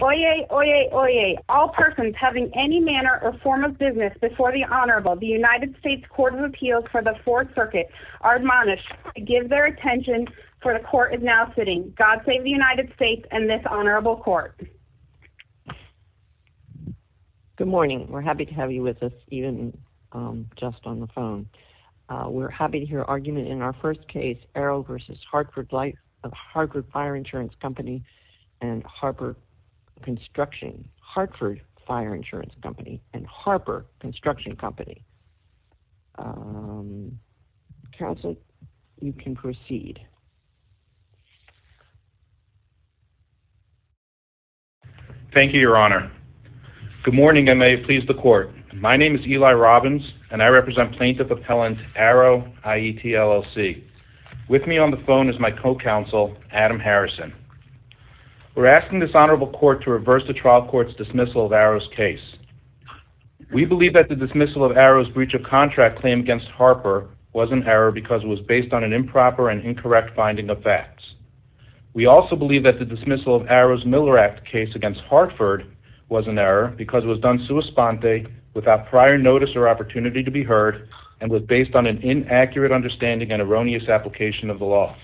Oyez! Oyez! Oyez! All persons having any manner or form of business before the Honorable the United States Court of Appeals for the Fourth Circuit are admonished to give their attention for the court is now sitting. God save the United States and this Honorable Court. Good morning we're happy to have you with us even just on the phone. We're happy to hear argument in our first case Aarow v. Hartford Light of Hartford Fire Insurance Company and Harper Construction Hartford Fire Insurance Company and Harper Construction Company. Counselor you can proceed. Thank you Your Honor. Good morning and may it please the court my name is Eli Robbins and I represent Plaintiff Appellant Aarow IET LLC. With me on the phone is my co-counsel Adam Harrison. We're asking this Honorable Court to reverse the trial court's dismissal of Aarow's case. We believe that the dismissal of Aarow's breach of contract claim against Harper was an error because it was based on an improper and incorrect finding of facts. We also believe that the dismissal of Aarow's Miller Act case against Hartford was an error because it was done sua sponte without prior notice or opportunity to be heard and was based on an inaccurate understanding and erroneous application of the law.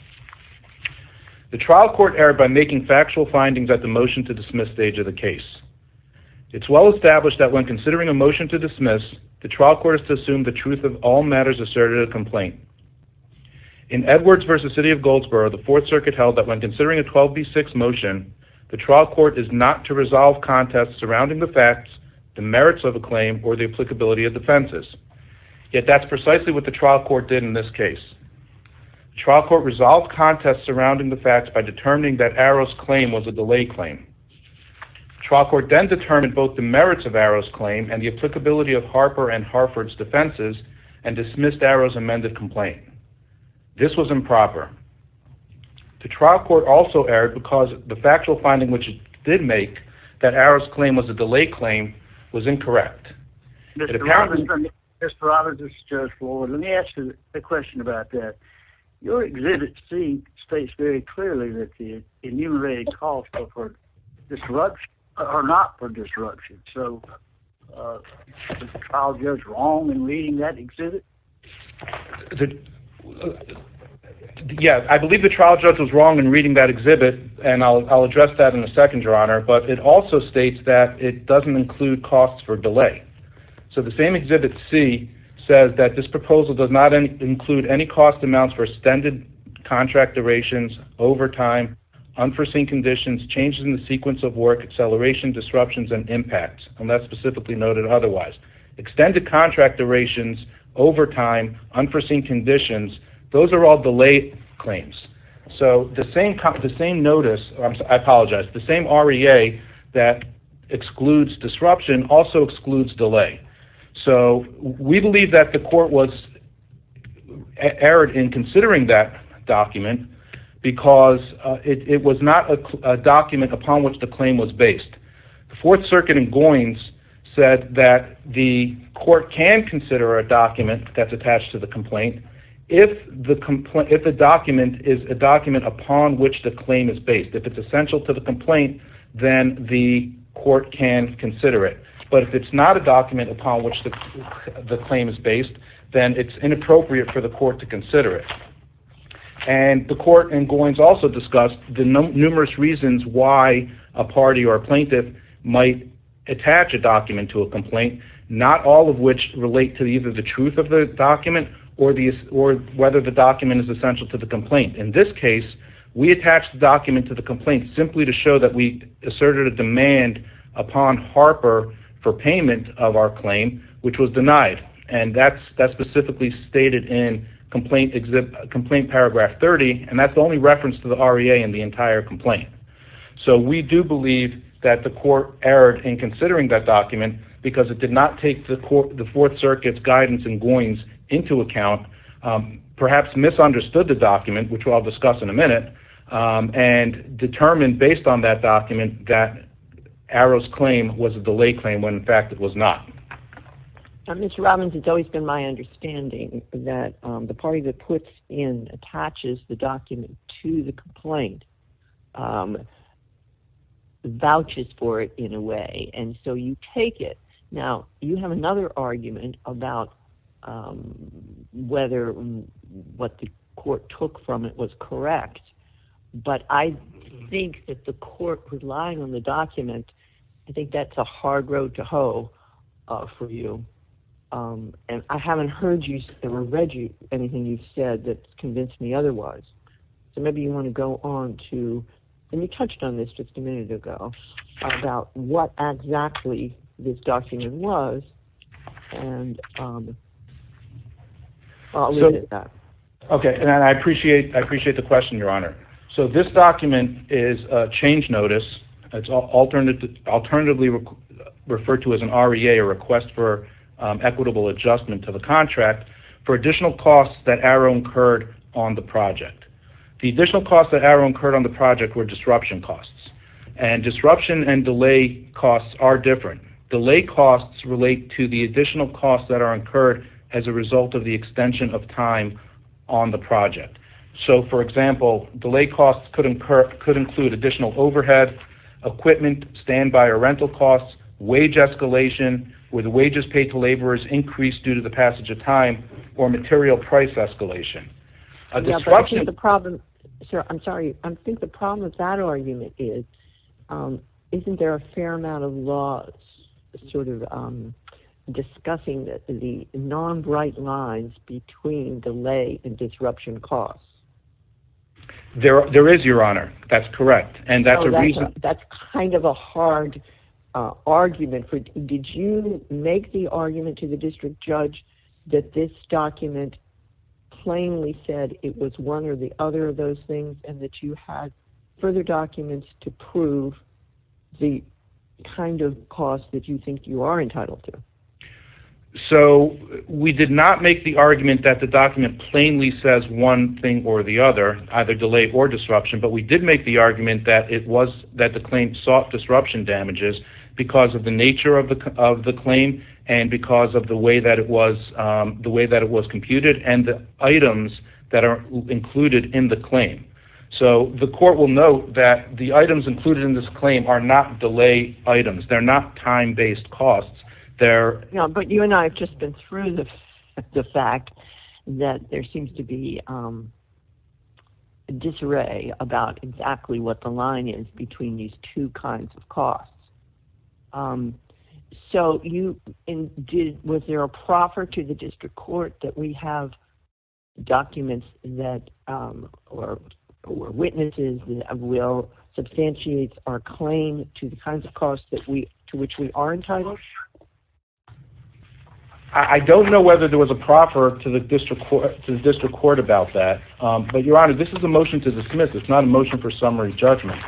The trial court error by making factual findings at the motion to dismiss stage of the case. It's well established that when considering a motion to dismiss the trial court is to assume the truth of all matters asserted a complaint. In Edwards versus City of Goldsboro the Fourth Circuit held that when considering a 12b6 motion the trial court is not to resolve contests surrounding the facts, the merits of a claim, or the applicability of defenses. Yet that's precisely what the trial court did in this case. Trial court resolved contests surrounding the facts by determining that Aarow's claim was a delay claim. Trial court then determined both the merits of Aarow's claim and the applicability of Harper and Hartford's defenses and dismissed Aarow's amended complaint. This was improper. The trial court also erred because the factual finding which it did make that Aarow's claim was a delay claim was incorrect. Mr. Roberts, this is Judge Floyd. Let me ask you a question about that. Your exhibit C states very clearly that the enumerated calls are for disruption or not for Yeah, I believe the trial judge was wrong in reading that exhibit and I'll address that in a second, Your Honor, but it also states that it doesn't include costs for delay. So the same exhibit C says that this proposal does not include any cost amounts for extended contract durations, overtime, unforeseen conditions, changes in the sequence of work, acceleration, disruptions, and impacts, unless specifically noted otherwise. Extended contract durations, overtime, unforeseen conditions, those are all delayed claims. So the same notice, I apologize, the same REA that excludes disruption also excludes delay. So we believe that the court was erred in considering that document because it was not a document upon which the claim was based. The Fourth Circuit in Goins said that the court can consider a document that's attached to the complaint if the complaint, if a document is a document upon which the claim is based. If it's essential to the complaint, then the court can consider it. But if it's not a document upon which the claim is based, then it's inappropriate for the court to consider it. And the court in Goins also discussed the numerous reasons why a complaint, not all of which relate to either the truth of the document or whether the document is essential to the complaint. In this case, we attached the document to the complaint simply to show that we asserted a demand upon Harper for payment of our claim, which was denied. And that's specifically stated in complaint paragraph 30, and that's the only reference to the REA in the entire complaint. So we do believe that the did not take the Fourth Circuit's guidance in Goins into account, perhaps misunderstood the document, which I'll discuss in a minute, and determined based on that document that Arrow's claim was a delay claim when in fact it was not. Now, Mr. Robbins, it's always been my understanding that the party that puts in, attaches the document to the complaint vouches for it in a way. And so you take it. Now, you have another argument about whether what the court took from it was correct. But I think that the court relying on the document, I think that's a hard road to hoe for you. And I haven't heard you, never read you anything you've said that convinced me otherwise. So maybe you want to go on to, and you document was. Okay, and I appreciate, I appreciate the question, Your Honor. So this document is a change notice. It's alternatively referred to as an REA, a request for equitable adjustment to the contract for additional costs that Arrow incurred on the project. The additional costs that Arrow incurred on the project were disruption costs. And disruption and delay costs are different. Delay costs relate to the additional costs that are incurred as a result of the extension of time on the project. So for example, delay costs could include additional overhead, equipment, standby or rental costs, wage escalation, where the wages paid to laborers increased due to the passage of time, or material price escalation. I'm sorry, I think the problem with that argument is, isn't there a fair amount of laws sort of discussing the non-bright lines between delay and disruption costs? There is, Your Honor, that's correct. And that's a reason, that's kind of a hard argument for, did you make the argument to the district judge that this document plainly said it was one or the other of those things, and that you had further documents to prove the kind of cost that you think you are entitled to? So we did not make the argument that the document plainly says one thing or the other, either delay or disruption, but we did make the argument that it was that the claim sought disruption damages because of the nature of the claim and because of the way that it was computed and the items that are included in the claim. So the court will note that the items included in this claim are not delay items, they're not time-based costs. But you and I have just been through the fact that there seems to be a disarray about exactly what the line is between these two kinds of costs. So you, was there a proffer to the district court that we have documents that, or witnesses will substantiate our claim to the kinds of costs that we, to which we are entitled? I don't know whether there was a proffer to the district court, to the district court about that, but Your Honor, this is a motion to dismiss, it's not a motion for summary judgment.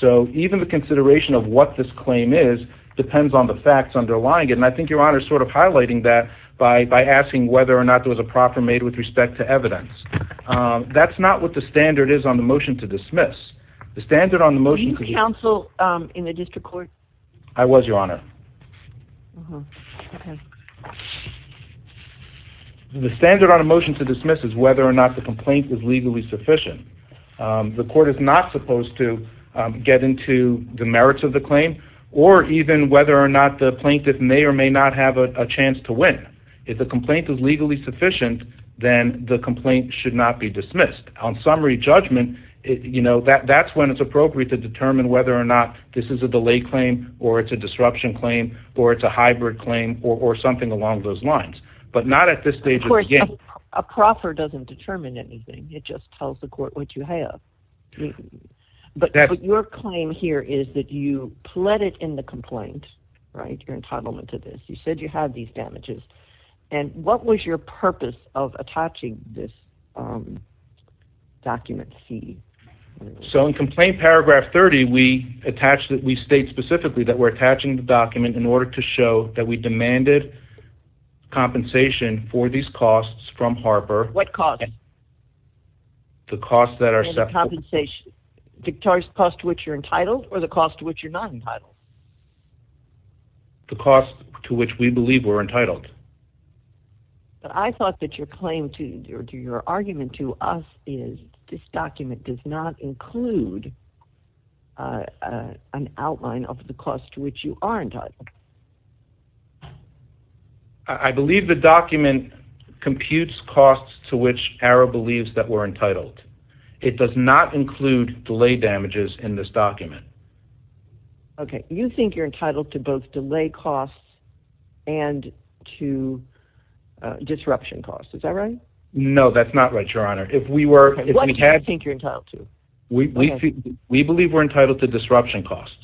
So even the consideration of what this claim is depends on the facts underlying it, and I think Your Honor is sort of highlighting that by asking whether or not there was a proffer made with respect to evidence. That's not what the standard is on the motion to dismiss. The standard on the motion... Were you counsel in the district court? I was, Your Honor. The standard on a motion to dismiss is whether or not the complaint is legally sufficient. The plaintiff is not supposed to get into the merits of the claim, or even whether or not the plaintiff may or may not have a chance to win. If the complaint is legally sufficient, then the complaint should not be dismissed. On summary judgment, you know, that's when it's appropriate to determine whether or not this is a delay claim, or it's a disruption claim, or it's a hybrid claim, or something along those lines. But not at this stage. A proffer doesn't determine anything. It just tells the court what you have. But your claim here is that you pled it in the complaint, right, your entitlement to this. You said you had these damages, and what was your purpose of attaching this document fee? So in Complaint Paragraph 30, we attach that we state specifically that we're attaching the document in order to show that we demanded compensation for these costs. The costs that are separate. The cost to which you're entitled, or the cost to which you're not entitled? The cost to which we believe we're entitled. But I thought that your claim, or your argument to us, is this document does not include an outline of the cost to which you are entitled. I believe the document computes costs to which ARA believes that we're entitled. It does not include delay damages in this document. Okay, you think you're entitled to both delay costs and to disruption costs. Is that right? No, that's not right, Your Honor. If we were... What do you think you're entitled to? We believe we're entitled to disruption costs.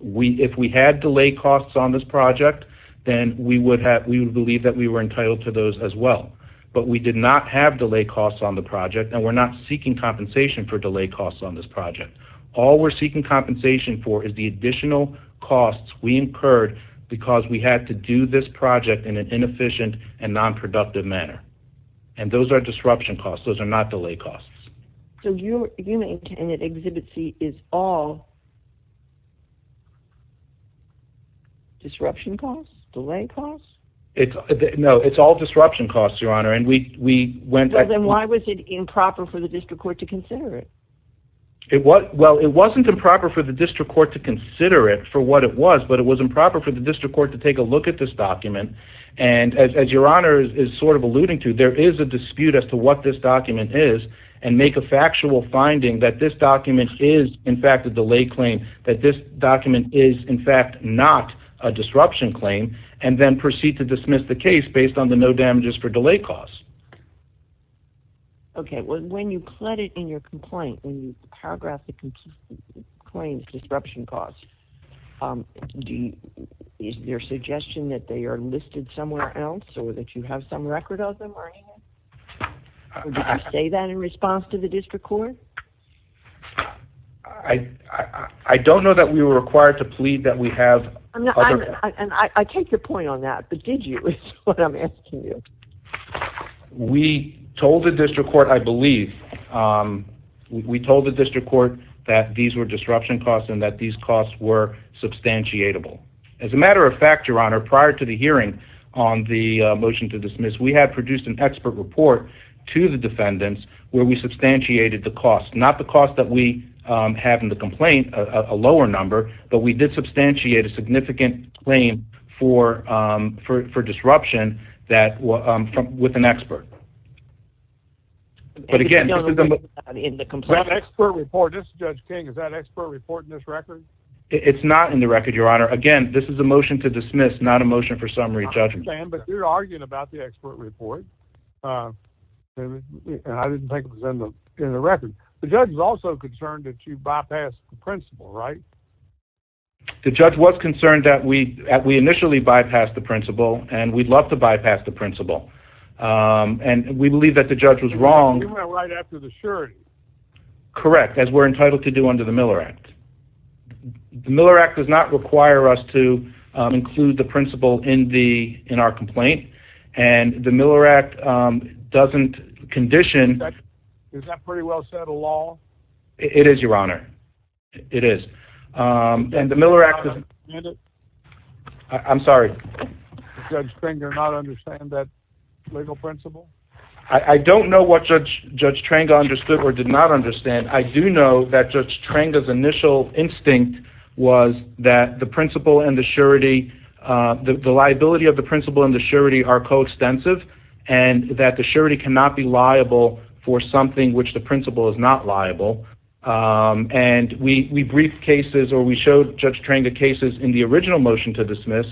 If we had delay costs on this project, then we would have, we would not have delay costs on the project, and we're not seeking compensation for delay costs on this project. All we're seeking compensation for is the additional costs we incurred because we had to do this project in an inefficient and non-productive manner. And those are disruption costs. Those are not delay costs. So you maintain that Exhibit C is all disruption costs? Delay costs? No, it's all disruption costs, Your Honor, and we went... Then why was it improper for the District Court to consider it? Well, it wasn't improper for the District Court to consider it for what it was, but it was improper for the District Court to take a look at this document. And as Your Honor is sort of alluding to, there is a dispute as to what this document is and make a factual finding that this document is in fact a delay claim, that this document is in fact not a disruption claim, and then proceed to dismiss the case based on the no damages for delay costs. Okay, well, when you put it in your complaint, when you paragraph the complaint's disruption costs, is there suggestion that they are listed somewhere else or that you have some record of them or anything? Did you say that in response to the District Court? I don't know that we were required to plead that we have... I take your point on that, but did you is what I'm asking you. We told the District Court, I believe, we told the District Court that these were disruption costs and that these costs were substantiatable. As a matter of fact, Your Honor, prior to the hearing on the motion to dismiss, we have produced an expert report to the cost, not the cost that we have in the complaint, a lower number, but we did substantiate a significant claim for disruption that was with an expert. But again, this is a motion... The expert report, this is Judge King, is that expert report in this record? It's not in the record, Your Honor. Again, this is a motion to dismiss, not a motion for summary judgment. I understand, but you're arguing about the expert report, and I didn't think it was in the record. The judge was also concerned that you bypassed the principle, right? The judge was concerned that we initially bypassed the principle, and we'd love to bypass the principle, and we believe that the judge was wrong. You went right after the surety. Correct, as we're entitled to do under the Miller Act. The Miller Act does not require us to include the principle in our complaint, and the It is, Your Honor. It is. And the Miller Act... I'm sorry. Does Judge Tranga not understand that legal principle? I don't know what Judge Tranga understood or did not understand. I do know that Judge Tranga's initial instinct was that the principle and the surety, the liability of the principle and the surety are coextensive, and that the surety cannot be liable for something which the is not liable, and we briefed cases or we showed Judge Tranga cases in the original motion to dismiss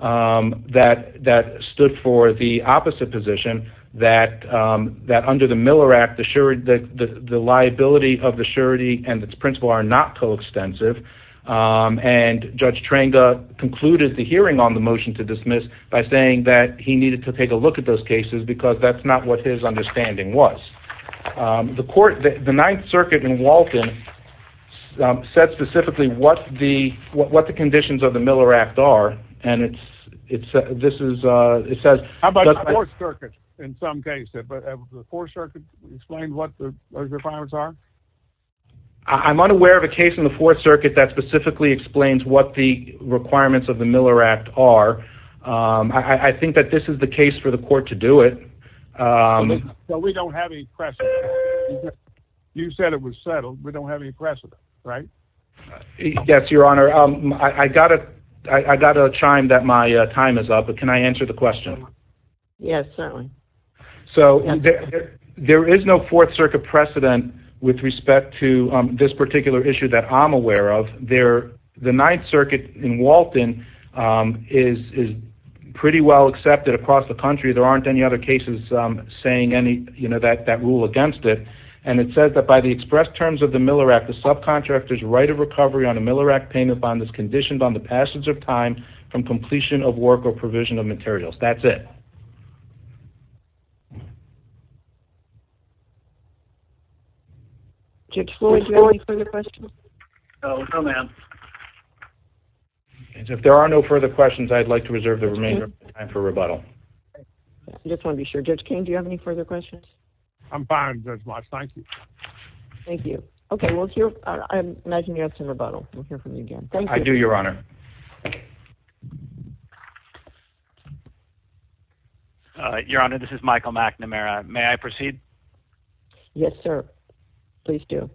that stood for the opposite position, that under the Miller Act, the liability of the surety and its principle are not coextensive, and Judge Tranga concluded the hearing on the motion to dismiss by saying that he needed to take a look at those cases because that's not what his The Ninth Circuit in Walton said specifically what the conditions of the Miller Act are, and it says... How about the Fourth Circuit in some cases? Has the Fourth Circuit explained what those requirements are? I'm unaware of a case in the Fourth Circuit that specifically explains what the requirements of the Miller Act are. I think that this is the case for the said it was settled, we don't have any precedent, right? Yes, your honor, I got a I got a chime that my time is up, but can I answer the question? Yes, certainly. So there is no Fourth Circuit precedent with respect to this particular issue that I'm aware of. The Ninth Circuit in Walton is pretty well accepted across the country. There aren't any other cases saying any, you know, that the express terms of the Miller Act, the subcontractor's right of recovery on a Miller Act payment bond is conditioned on the passage of time from completion of work or provision of materials. That's it. Judge Floyd, do you have any further questions? No, no ma'am. If there are no further questions, I'd like to reserve the remainder of the time for rebuttal. I just want to be sure. Judge King, do you have any Thank you. Okay, well, I imagine you have to rebuttal. We'll hear from you again. Thank you. I do, your honor. Your honor, this is Michael McNamara. May I proceed? Yes, sir. Please do.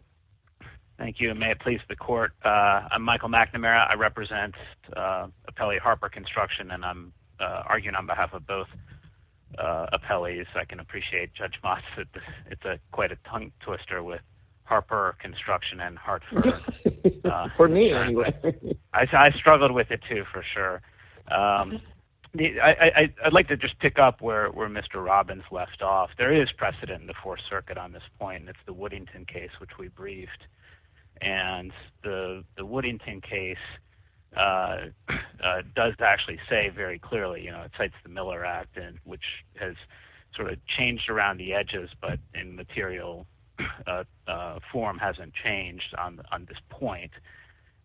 Thank you. May it please the court. I'm Michael McNamara. I represent Appellee Harper Construction and I'm arguing on behalf of both appellees. I can appreciate Judge Moss. It's quite a tongue twister with Harper Construction and Hartford. For me, anyway. I struggled with it, too, for sure. I'd like to just pick up where Mr. Robbins left off. There is precedent in the Fourth Circuit on this point. That's the Woodington case, which we briefed. And the Woodington case does actually say very clearly, you know, it cites the Miller Act, which has sort of changed around the edges, but in material form hasn't changed on this point.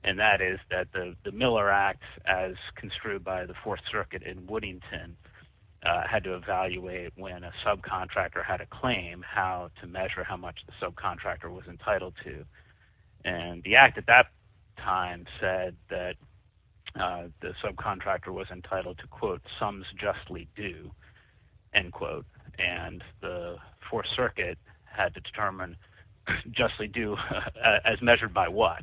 And that is that the Miller Act, as construed by the Fourth Circuit in Woodington, had to evaluate when a subcontractor had a claim how to measure how much the subcontractor was entitled to. And the act at that time said that the subcontractor was entitled to, quote, sums justly due, end quote. And the Fourth Circuit had to determine justly due as measured by what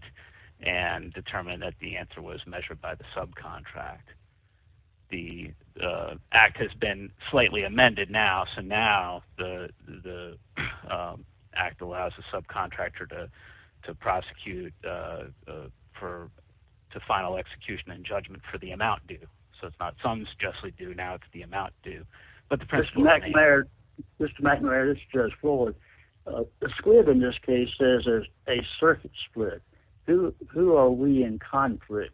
and determine that the answer was measured by the subcontract. The act has been slightly amended now. So now the Act allows a subcontractor to prosecute for the final execution and judgment for the amount due. So it's not sums justly due. Now it's the amount due, but the principle is the same. Mr. McNair, this is Judge Floyd. The Squid, in this case, says it's a circuit split. Who are we in conflict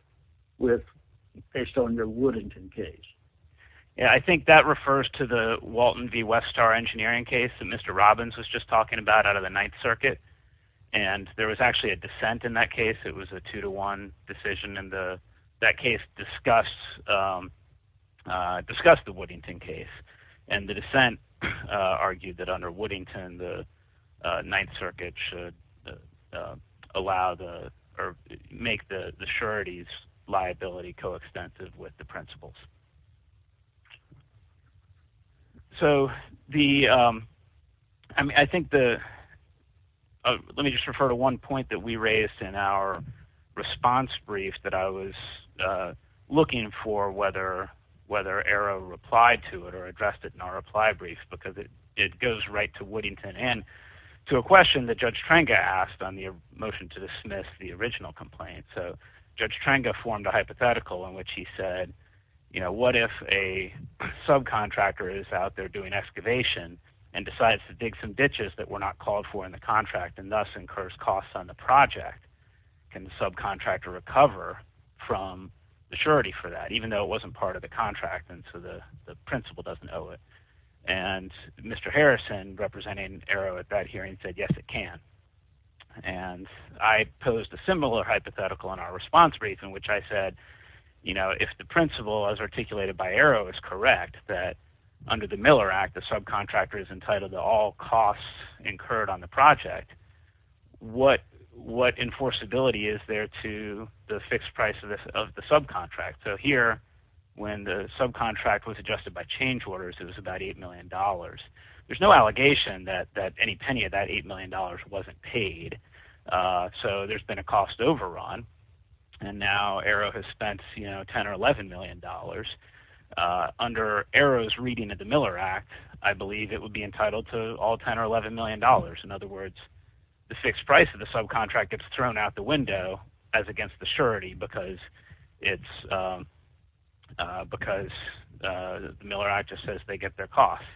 with, based on the Woodington case? Yeah, I think that refers to the Walton v. Westar engineering case that Mr. Robbins was just talking about out of the Ninth Circuit. And there was actually a dissent in that case. It was a two to one decision. And that case discussed the Woodington case. And the dissent argued that under Woodington, the Ninth Circuit should make the sureties liability coextensive with the principles. So the, I mean, I think the, let me just refer to one point that we raised in our response brief that I was looking for whether, whether Arrow replied to it or addressed it in our reply brief, because it, it goes right to Woodington and to a question that Judge Trenga asked on the motion to dismiss the original complaint. So Judge Trenga formed a hypothetical in which he said, you know, what if a subcontractor is out there doing excavation and decides to dig some ditches that were not called for in the contract and thus incurs costs on the project? Can the subcontractor recover from the surety for that, even though it wasn't part of the contract? And so the principle doesn't owe it. And Mr. Harrison representing Arrow at that hearing said, yes, it can. And I posed a similar hypothetical in our response brief in which I said, you know, if the principle as articulated by Arrow is correct, that under the Miller Act, the subcontractor is entitled to all costs incurred on the project. What, what enforceability is there to the fixed price of the subcontract? So here, when the subcontract was adjusted by change orders, it was about $8 million. There's no allegation that, that any penny of that $8 million wasn't paid. So there's been a cost overrun and now Arrow has spent, you know, 10 or $11 million. Under Arrow's reading of the Miller Act, I believe it would be entitled to all 10 or $11 million. In other words, the fixed price of the subcontract gets thrown out the window as against the surety because it's, because the Miller Act just says they get their costs.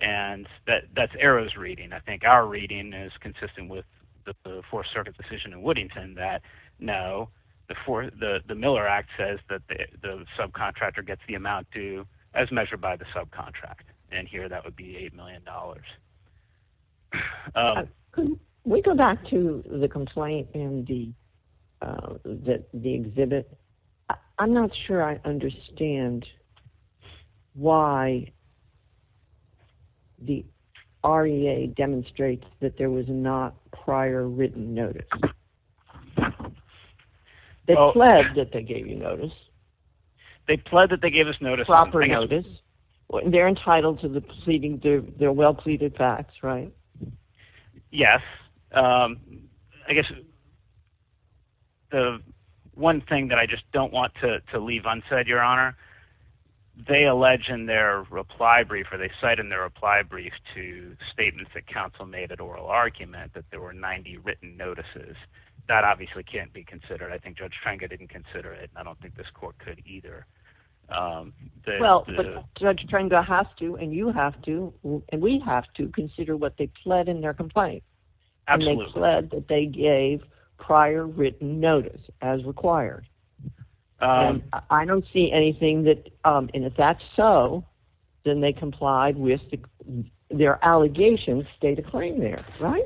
And that's Arrow's reading. I think our reading is consistent with the Fourth Circuit decision in Woodington that no, the Miller Act says that the subcontractor gets the amount due as measured by the subcontract. And here that would be $8 million. We go back to the complaint and the, the exhibit. I'm not sure I understand why the REA demonstrates that there was not prior written notice. They pled that they gave you notice. They pled that they gave us notice. Proper notice. They're entitled to the pleading, their well pleaded facts, right? Yes. I guess the one thing that I just don't want to leave unsaid, Your Honor, they allege in their reply brief, or they cite in their reply brief to statements that counsel made at oral argument that there were 90 written notices that obviously can't be considered. I think Judge Tranga didn't consider it. I don't think this court could either. Well, Judge Tranga has to, and you have to, and we have to consider what they pled in their complaint. Absolutely. And they pled that they gave prior written notice as required. I don't see anything that, and if that's so, then they complied with their allegations, state a claim there, right?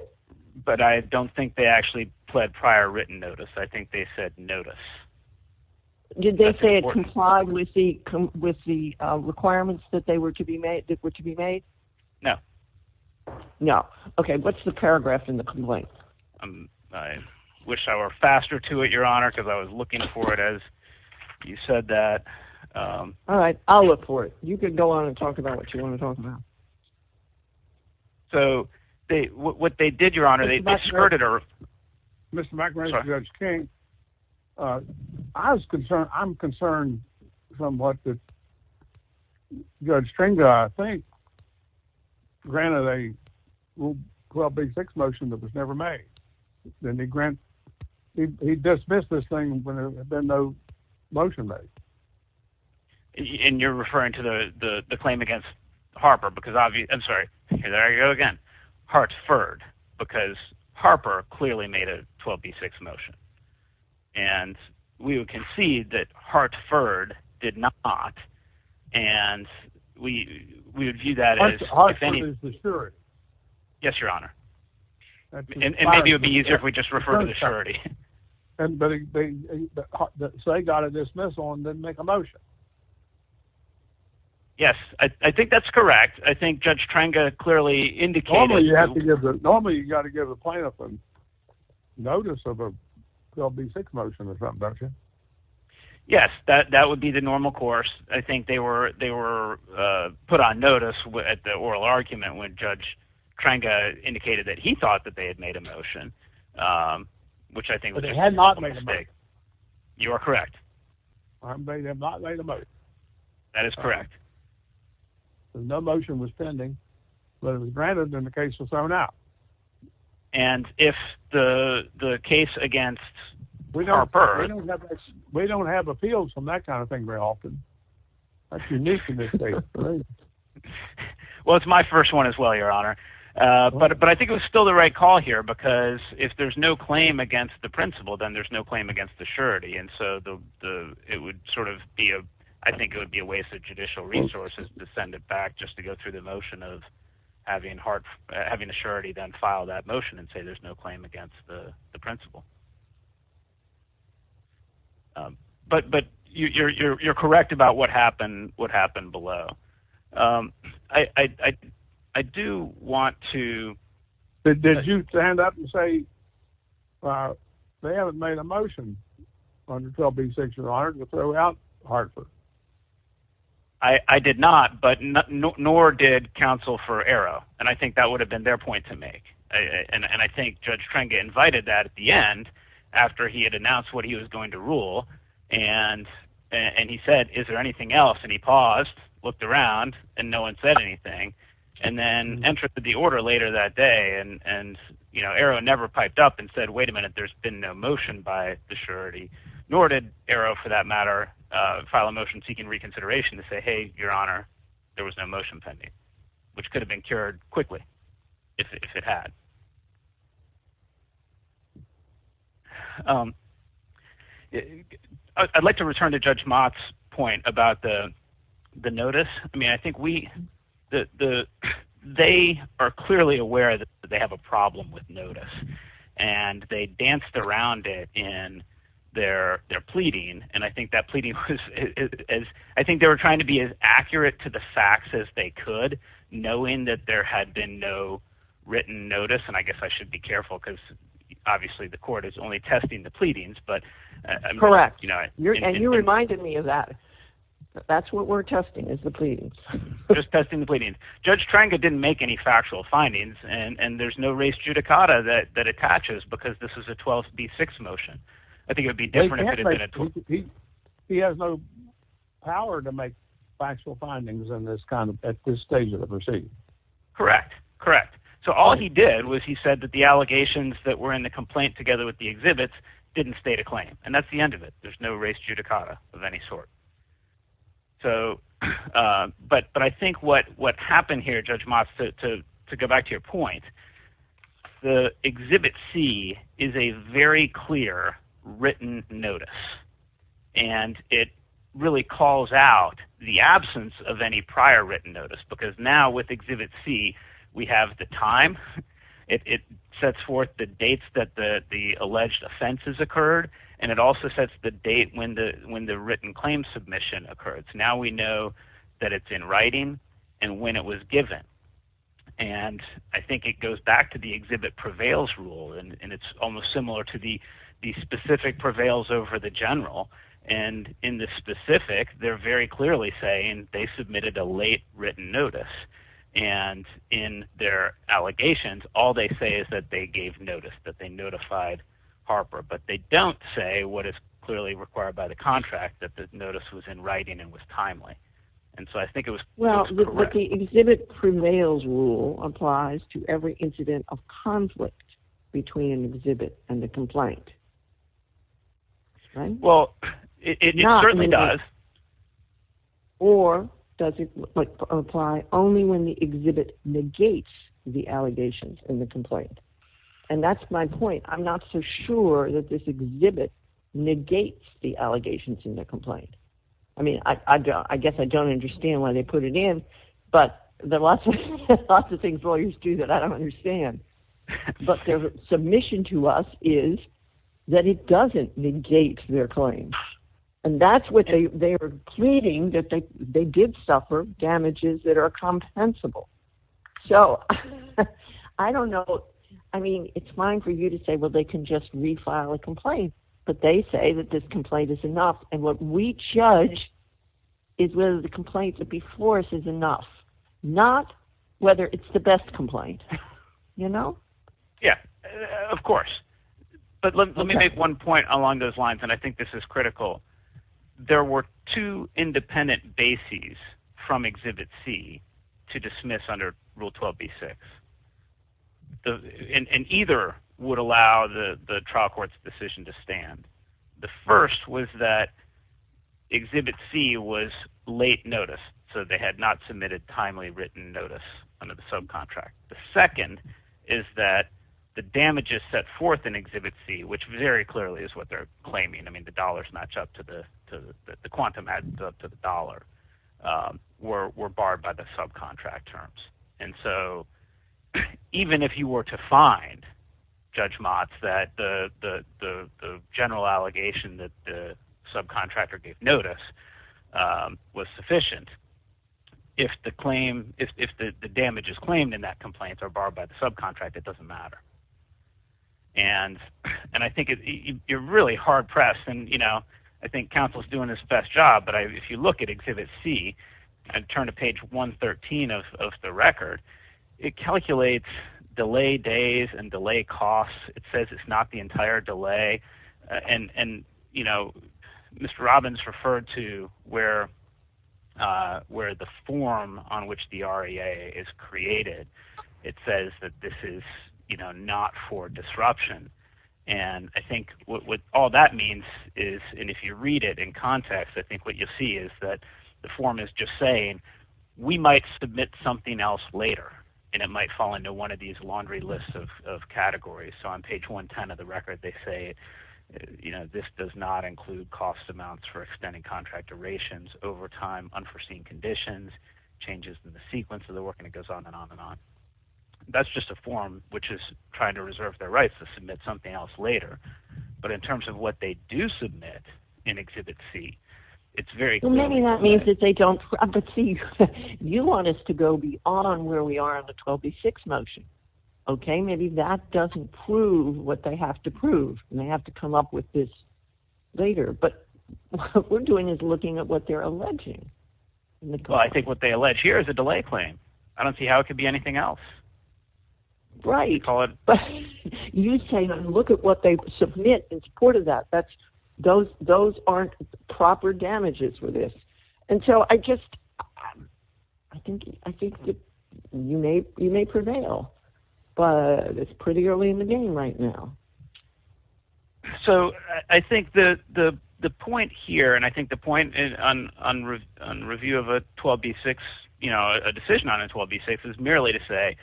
But I don't think they actually pled prior written notice. I think they said notice. Did they say it complied with the requirements that were to be made? No. No. Okay, what's the paragraph in the complaint? I wish I were faster to it, Your Honor, because I was looking for it as you said that. All right, I'll look for it. You can go on and talk about what you want to talk about. So what they did, Your Honor, they discredited our... Mr. McInerney, Judge King, I'm concerned somewhat that Judge Tranga, I think, granted a 12B6 motion that was never made, then he dismissed this thing when there had been no motion made. And you're referring to the claim against Harper, because obviously, I'm sorry, there you go again, Hartford, because Harper clearly made a 12B6 motion. And we would concede that Hartford did not, and we would view that as... Hartford is the surety. Yes, Your Honor. And maybe it would be easier if we just referred to the surety. So they got a dismissal and didn't make a motion. Yes, I think that's correct. I think Judge Tranga clearly indicated... Normally, you got to give a plaintiff a notice of a 12B6 motion or something, don't you? Yes, that would be the normal course. I think they were put on notice at the oral argument when Judge Tranga indicated that he thought that they had made a motion, which I think... But they had not made a motion. You are correct. They had not made a motion. That is correct. No motion was pending, but if it was granted, then the case was thrown out. And if the case against Harper... We don't have appeals from that kind of thing very often. That's unique in this case. Well, it's my first one as well, Your Honor. But I think it was still the right call here, because if there's no claim against the principal, then there's no claim against the surety. And so I think it would be a waste of judicial resources to send it back just to go through the motion of having the surety then file that motion and say there's no claim against the principal. But you're correct about what happened below. I do want to... They haven't made a motion under 12B6, Your Honor, to throw out Harper. I did not, nor did counsel for Arrow. And I think that would have been their point to make. And I think Judge Tranga invited that at the end after he had announced what he was going to rule. And he said, is there anything else? And he paused, looked around, and no one said anything. And then entered the order later that day, and Arrow never piped up and said, wait a minute, there's been no motion by the surety. Nor did Arrow, for that matter, file a motion seeking reconsideration to say, hey, Your Honor, there was no motion pending, which could have been cured quickly if it had. I'd like to return to Judge Mott's point about the notice. I mean, I think we... They are clearly aware that they have a problem with notice. And they danced around it in their pleading. And I think that pleading was... I think they were trying to be as accurate to the facts as they could, knowing that there had been no written notice. And I guess I should be careful because obviously the court is only testing the pleadings, but... Correct. And you reminded me of that. That's what we're testing, is the pleadings. Just testing the pleadings. Judge Tranga didn't make any factual findings, and there's no res judicata that attaches because this is a 12th v. 6 motion. I think it would be different if it had been a 12th. He has no power to make factual findings at this stage of the proceeding. Correct, correct. So all he did was he said that the allegations that were in the complaint together with the exhibits didn't state a claim. And that's the end of it. There's no res judicata of any sort. But I think what happened here, Judge Motz, to go back to your point, the Exhibit C is a very clear written notice. And it really calls out the absence of any prior written notice because now with Exhibit C we have the time. It sets forth the dates that the alleged offenses occurred, and it also sets the date when the written claim submission occurred. So now we know that it's in writing and when it was given. And I think it goes back to the exhibit prevails rule, and it's almost similar to the specific prevails over the general. And in the specific they're very clearly saying they submitted a late written notice. And in their allegations all they say is that they gave notice, that they notified Harper. But they don't say what is clearly required by the contract, that the notice was in writing and was timely. And so I think it was correct. Well, but the exhibit prevails rule applies to every incident of conflict between an exhibit and the complaint. Well, it certainly does. Or does it apply only when the exhibit negates the allegations in the complaint? And that's my point. I'm not so sure that this exhibit negates the allegations in the complaint. I mean, I guess I don't understand why they put it in, but there are lots of things lawyers do that I don't understand. But their submission to us is that it doesn't negate their claim. And that's what they're pleading, that they did suffer damages that are compensable. So I don't know. I mean, it's fine for you to say, well, they can just refile a complaint. But they say that this complaint is enough. And what we judge is whether the complaint before us is enough, not whether it's the best complaint. You know? Yeah, of course. But let me make one point along those lines, and I think this is critical. There were two independent bases from Exhibit C to dismiss under Rule 12b-6. And either would allow the trial court's decision to stand. The first was that Exhibit C was late notice, so they had not submitted timely written notice under the subcontract. The second is that the damages set forth in Exhibit C, which very clearly is what they're claiming. I mean, the dollars match up to the quantum add up to the dollar, were barred by the subcontract terms. And so even if you were to find, Judge Motz, that the general allegation that the subcontractor gave notice was sufficient, if the damages claimed in that complaint are barred by the subcontract, it doesn't matter. And I think you're really hard-pressed. And, you know, I think counsel's doing his best job. But if you look at Exhibit C and turn to page 113 of the record, it calculates delay days and delay costs. It says it's not the entire delay. And, you know, Mr. Robbins referred to where the form on which the REA is created, it says that this is, you know, not for disruption. And I think what all that means is, and if you read it in context, I think what you'll see is that the form is just saying, we might submit something else later, and it might fall into one of these laundry lists of categories. So on page 110 of the record, they say, you know, this does not include cost amounts for extending contract durations over time, unforeseen conditions, changes in the sequence of the work, and it goes on and on and on. That's just a form which is trying to reserve their rights to submit something else later. But in terms of what they do submit in Exhibit C, it's very clear. Well, maybe that means that they don't – but, see, you want us to go beyond where we are in the 12B6 motion. Okay, maybe that doesn't prove what they have to prove, and they have to come up with this later. But what we're doing is looking at what they're alleging. Well, I think what they allege here is a delay claim. I don't see how it could be anything else. Right. You say, look at what they submit in support of that. Those aren't proper damages for this. And so I just – I think you may prevail, but it's pretty early in the game right now. So I think the point here, and I think the point on review of a 12B6, you know, a decision on a 12B6 is merely to say,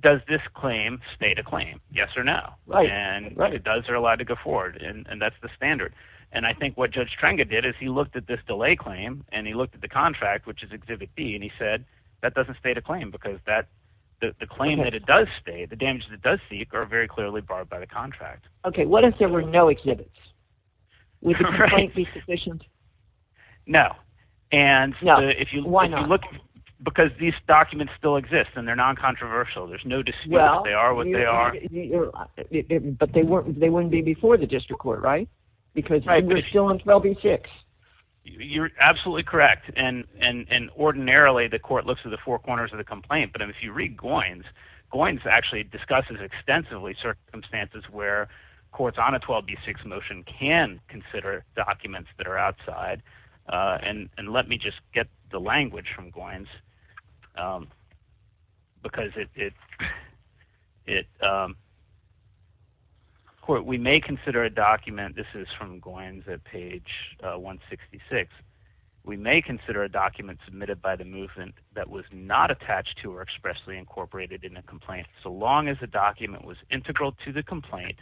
does this claim state a claim, yes or no? Right. And if it does, they're allowed to go forward, and that's the standard. And I think what Judge Trenge did is he looked at this delay claim, and he looked at the contract, which is Exhibit B, and he said that doesn't state a claim because the claim that it does state, the damages it does seek, are very clearly barred by the contract. Okay, what if there were no exhibits? Would the claim be sufficient? No. No. Why not? Because these documents still exist, and they're non-controversial. There's no dispute if they are what they are. But they wouldn't be before the district court, right? Because we're still on 12B6. You're absolutely correct. And ordinarily the court looks at the four corners of the complaint, but if you read Goins, Goins actually discusses extensively circumstances where courts on a 12B6 motion can consider documents that are outside. And let me just get the language from Goins, because we may consider a document. This is from Goins at page 166. We may consider a document submitted by the movement that was not attached to or expressly incorporated in a complaint, so long as the document was integral to the complaint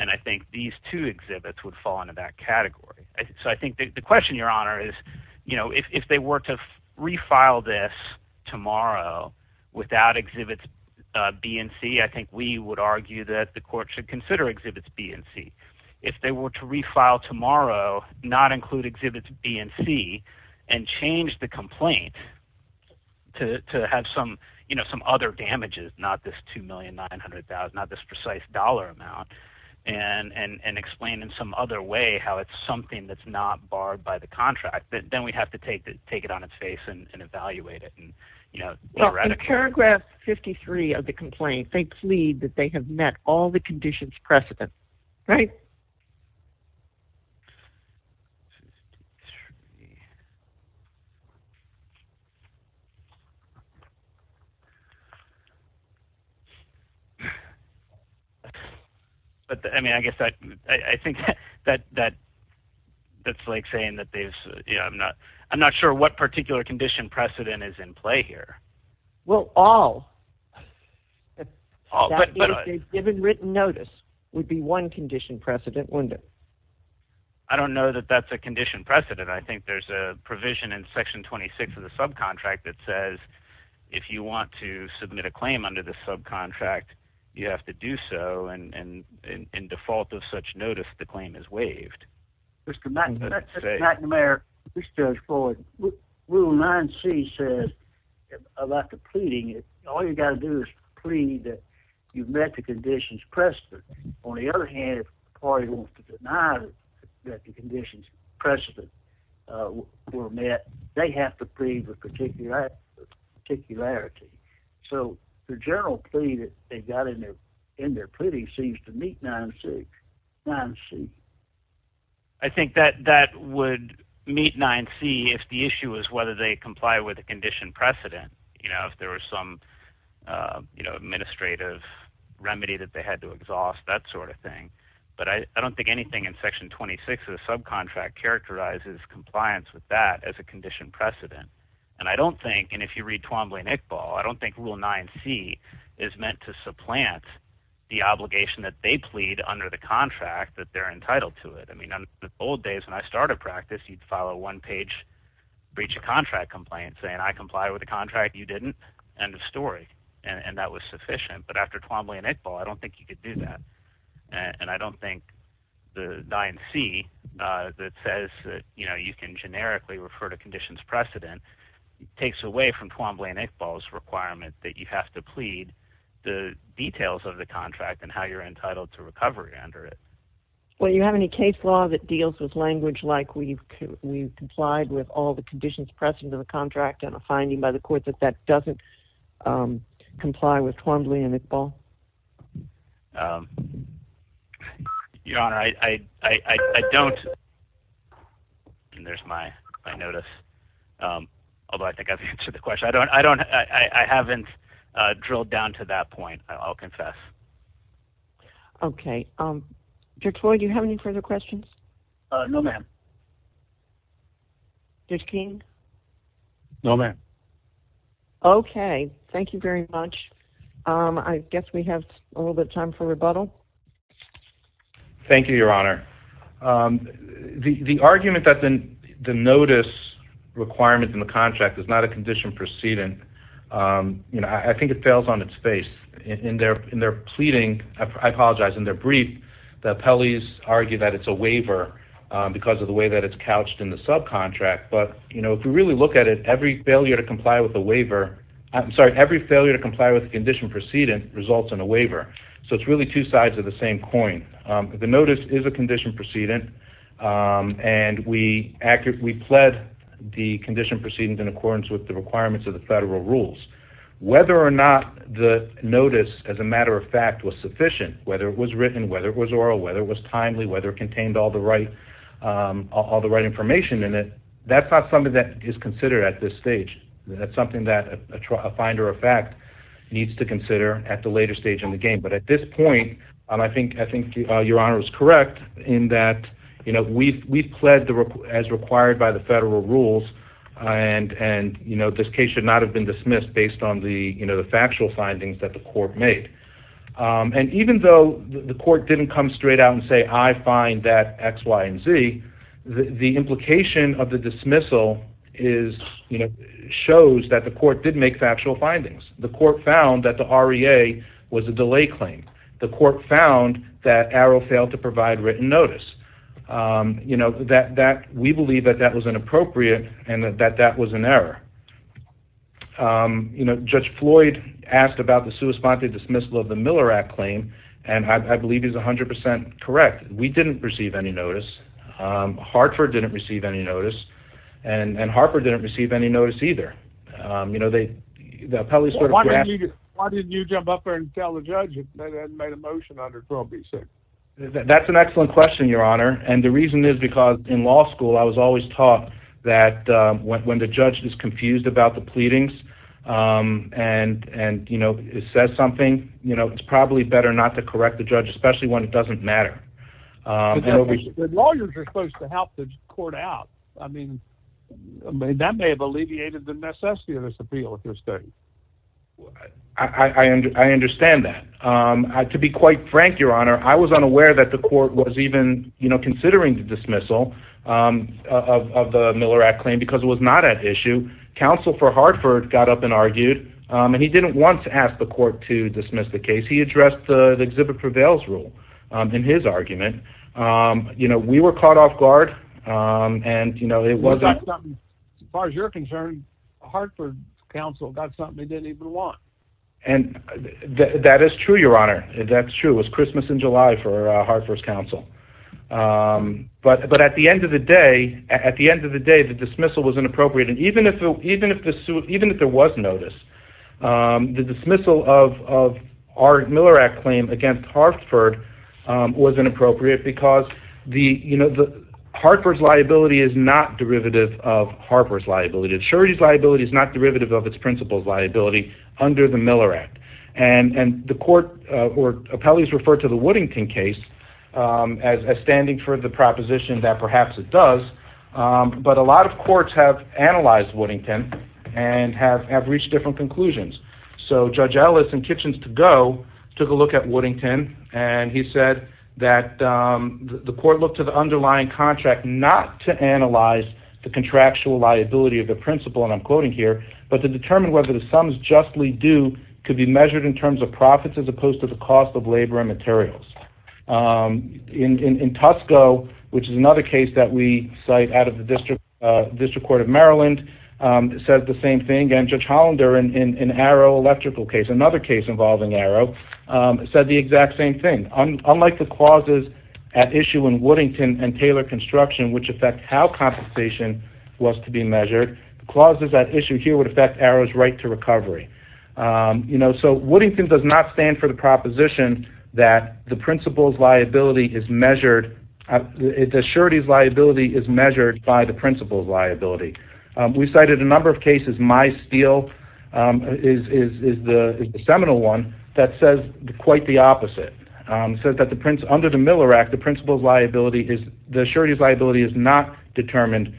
And I think these two exhibits would fall into that category. So I think the question, Your Honor, is if they were to refile this tomorrow without exhibits B and C, I think we would argue that the court should consider exhibits B and C. If they were to refile tomorrow, not include exhibits B and C, and change the complaint to have some other damages, not this $2,900,000, not this precise dollar amount, and explain in some other way how it's something that's not barred by the contract, then we'd have to take it on its face and evaluate it. In paragraph 53 of the complaint, they plead that they have met all the conditions precedent, right? But, I mean, I guess I think that that's like saying that they've, you know, I'm not sure what particular condition precedent is in play here. Well, all. That is, they've given written notice would be one condition precedent, wouldn't it? I don't know that that's a condition precedent. I think there's a provision in section 26 of the subcontract that says if you want to submit a claim under the subcontract, you have to do so, and in default of such notice, the claim is waived. Mr. McNamara, Judge Floyd, Rule 9c says about the pleading, all you've got to do is plead that you've met the conditions precedent. On the other hand, if the party wants to deny that the conditions precedent were met, they have to plead the particularity. So the general plea that they got in their pleading seems to meet 9c. I think that that would meet 9c if the issue is whether they comply with the condition precedent, you know, if there was some, you know, administrative remedy that they had to exhaust, that sort of thing. But I don't think anything in section 26 of the subcontract characterizes compliance with that as a condition precedent. And I don't think, and if you read Twombly and Iqbal, I don't think Rule 9c is meant to supplant the obligation that they plead under the contract that they're entitled to it. I mean, in the old days when I started practice, you'd file a one-page breach of contract complaint saying I complied with the contract, you didn't, end of story, and that was sufficient. But after Twombly and Iqbal, I don't think you could do that. And I don't think the 9c that says that, you know, you can generically refer to conditions precedent takes away from Twombly and Iqbal's requirement that you have to plead the details of the contract and how you're entitled to recovery under it. Well, do you have any case law that deals with language like we've complied with all the conditions present in the contract and a finding by the court that that doesn't comply with Twombly and Iqbal? Your Honor, I don't. There's my notice. Although I think I've answered the question. I haven't drilled down to that point, I'll confess. Okay. Judge Floyd, do you have any further questions? No, ma'am. Judge King? No, ma'am. Okay. Thank you very much. I guess we have a little bit of time for rebuttal. Thank you, Your Honor. The argument that the notice requirement in the contract is not a condition precedent, you know, I think it fails on its face. In their pleading, I apologize, in their brief, the appellees argue that it's a waiver because of the way that it's couched in the subcontract. But, you know, if you really look at it, every failure to comply with a waiver, I'm sorry, every failure to comply with the condition precedent results in a waiver. So it's really two sides of the same coin. The notice is a condition precedent and we pled the condition precedent in accordance with the requirements of the federal rules. Whether or not the notice, as a matter of fact, was sufficient, whether it was written, whether it was oral, whether it was timely, whether it contained all the right information in it, that's not something that is considered at this stage. That's something that a finder of fact needs to consider at the later stage in the game. But at this point, I think Your Honor is correct in that, you know, we've pled as required by the federal rules and, you know, this case should not have been dismissed based on the factual findings that the court made. And even though the court didn't come straight out and say I find that X, Y, and Z, the implication of the dismissal is, you know, shows that the court did make factual findings. The court found that the REA was a delay claim. The court found that Arrow failed to provide written notice. You know, we believe that that was inappropriate and that that was an error. You know, Judge Floyd asked about the sui sponte dismissal of the Miller Act claim and I believe he's 100% correct. We didn't receive any notice. Hartford didn't receive any notice. And Harper didn't receive any notice either. You know, the appellees sort of grasped it. Why didn't you jump up there and tell the judge that they had made a motion under 12B6? That's an excellent question, Your Honor. And the reason is because in law school I was always taught that when the judge is confused about the pleadings and, you know, says something, you know, it's probably better not to correct the judge, especially when it doesn't matter. The lawyers are supposed to help the court out. I mean, that may have alleviated the necessity of this appeal at this stage. I understand that. To be quite frank, Your Honor, I was unaware that the court was even, you know, because it was not at issue. Counsel for Hartford got up and argued, and he didn't want to ask the court to dismiss the case. He addressed the exhibit prevails rule in his argument. You know, we were caught off guard, and, you know, it wasn't... As far as you're concerned, Hartford's counsel got something they didn't even want. And that is true, Your Honor. It was Christmas in July for Hartford's counsel. But at the end of the day, at the end of the day, the dismissal was inappropriate. And even if there was notice, the dismissal of our Miller Act claim against Hartford was inappropriate because, you know, Hartford's liability is not derivative of Harper's liability. The surety's liability is not derivative of its principal's liability under the Miller Act. And the court or appellees referred to the Woodington case as standing for the proposition that perhaps it does. But a lot of courts have analyzed Woodington and have reached different conclusions. So Judge Ellis in Kitchens-to-Go took a look at Woodington, and he said that the court looked to the underlying contract not to analyze the contractual liability of the principal, and I'm quoting here, but to determine whether the sums justly due could be measured in terms of profits as opposed to the cost of labor and materials. In Tusco, which is another case that we cite out of the District Court of Maryland, it says the same thing. And Judge Hollander in Arrow Electrical case, another case involving Arrow, said the exact same thing. Unlike the clauses at issue in Woodington and Taylor Construction, which affect how compensation was to be measured, the clauses at issue here would affect Arrow's right to recovery. So Woodington does not stand for the proposition that the principal's liability is measured. The surety's liability is measured by the principal's liability. We cited a number of cases. My Steel is the seminal one that says quite the opposite. It says that under the Miller Act, the surety's liability is not determined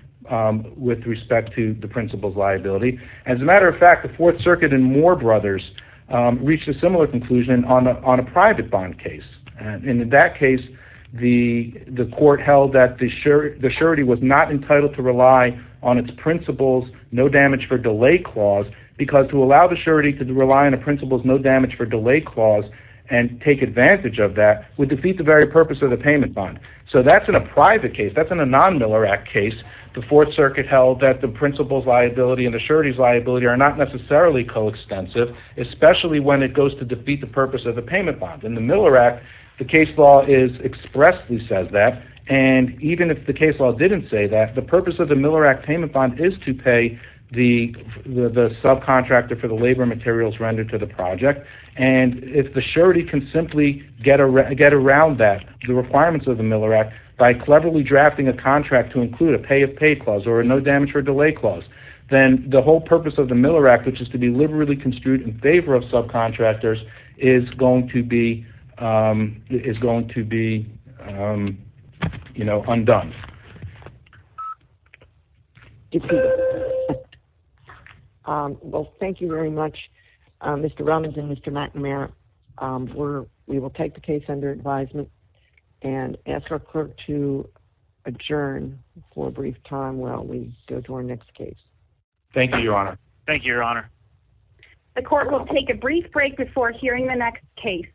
with respect to the principal's liability. As a matter of fact, the Fourth Circuit and Moore Brothers reached a similar conclusion on a private bond case. And in that case, the court held that the surety was not entitled to rely on its principal's no damage for delay clause because to allow the surety to rely on the principal's no damage for delay clause and take advantage of that would defeat the very purpose of the payment bond. So that's in a private case. That's in a non-Miller Act case. The Fourth Circuit held that the principal's liability and the surety's liability are not necessarily coextensive, especially when it goes to defeat the purpose of the payment bond. In the Miller Act, the case law expressly says that. And even if the case law didn't say that, the purpose of the Miller Act payment bond is to pay the subcontractor for the labor materials rendered to the project. And if the surety can simply get around that, the requirements of the Miller Act, by cleverly drafting a contract to include a pay if paid clause or a no damage for delay clause, then the whole purpose of the Miller Act, which is to be liberally construed in favor of subcontractors, is going to be undone. Well, thank you very much, Mr. Rummins and Mr. McNamara. We will take the case under advisement and ask our clerk to adjourn for a brief time while we go to our next case. Thank you, Your Honor. Thank you, Your Honor. The court will take a brief break before hearing the next case.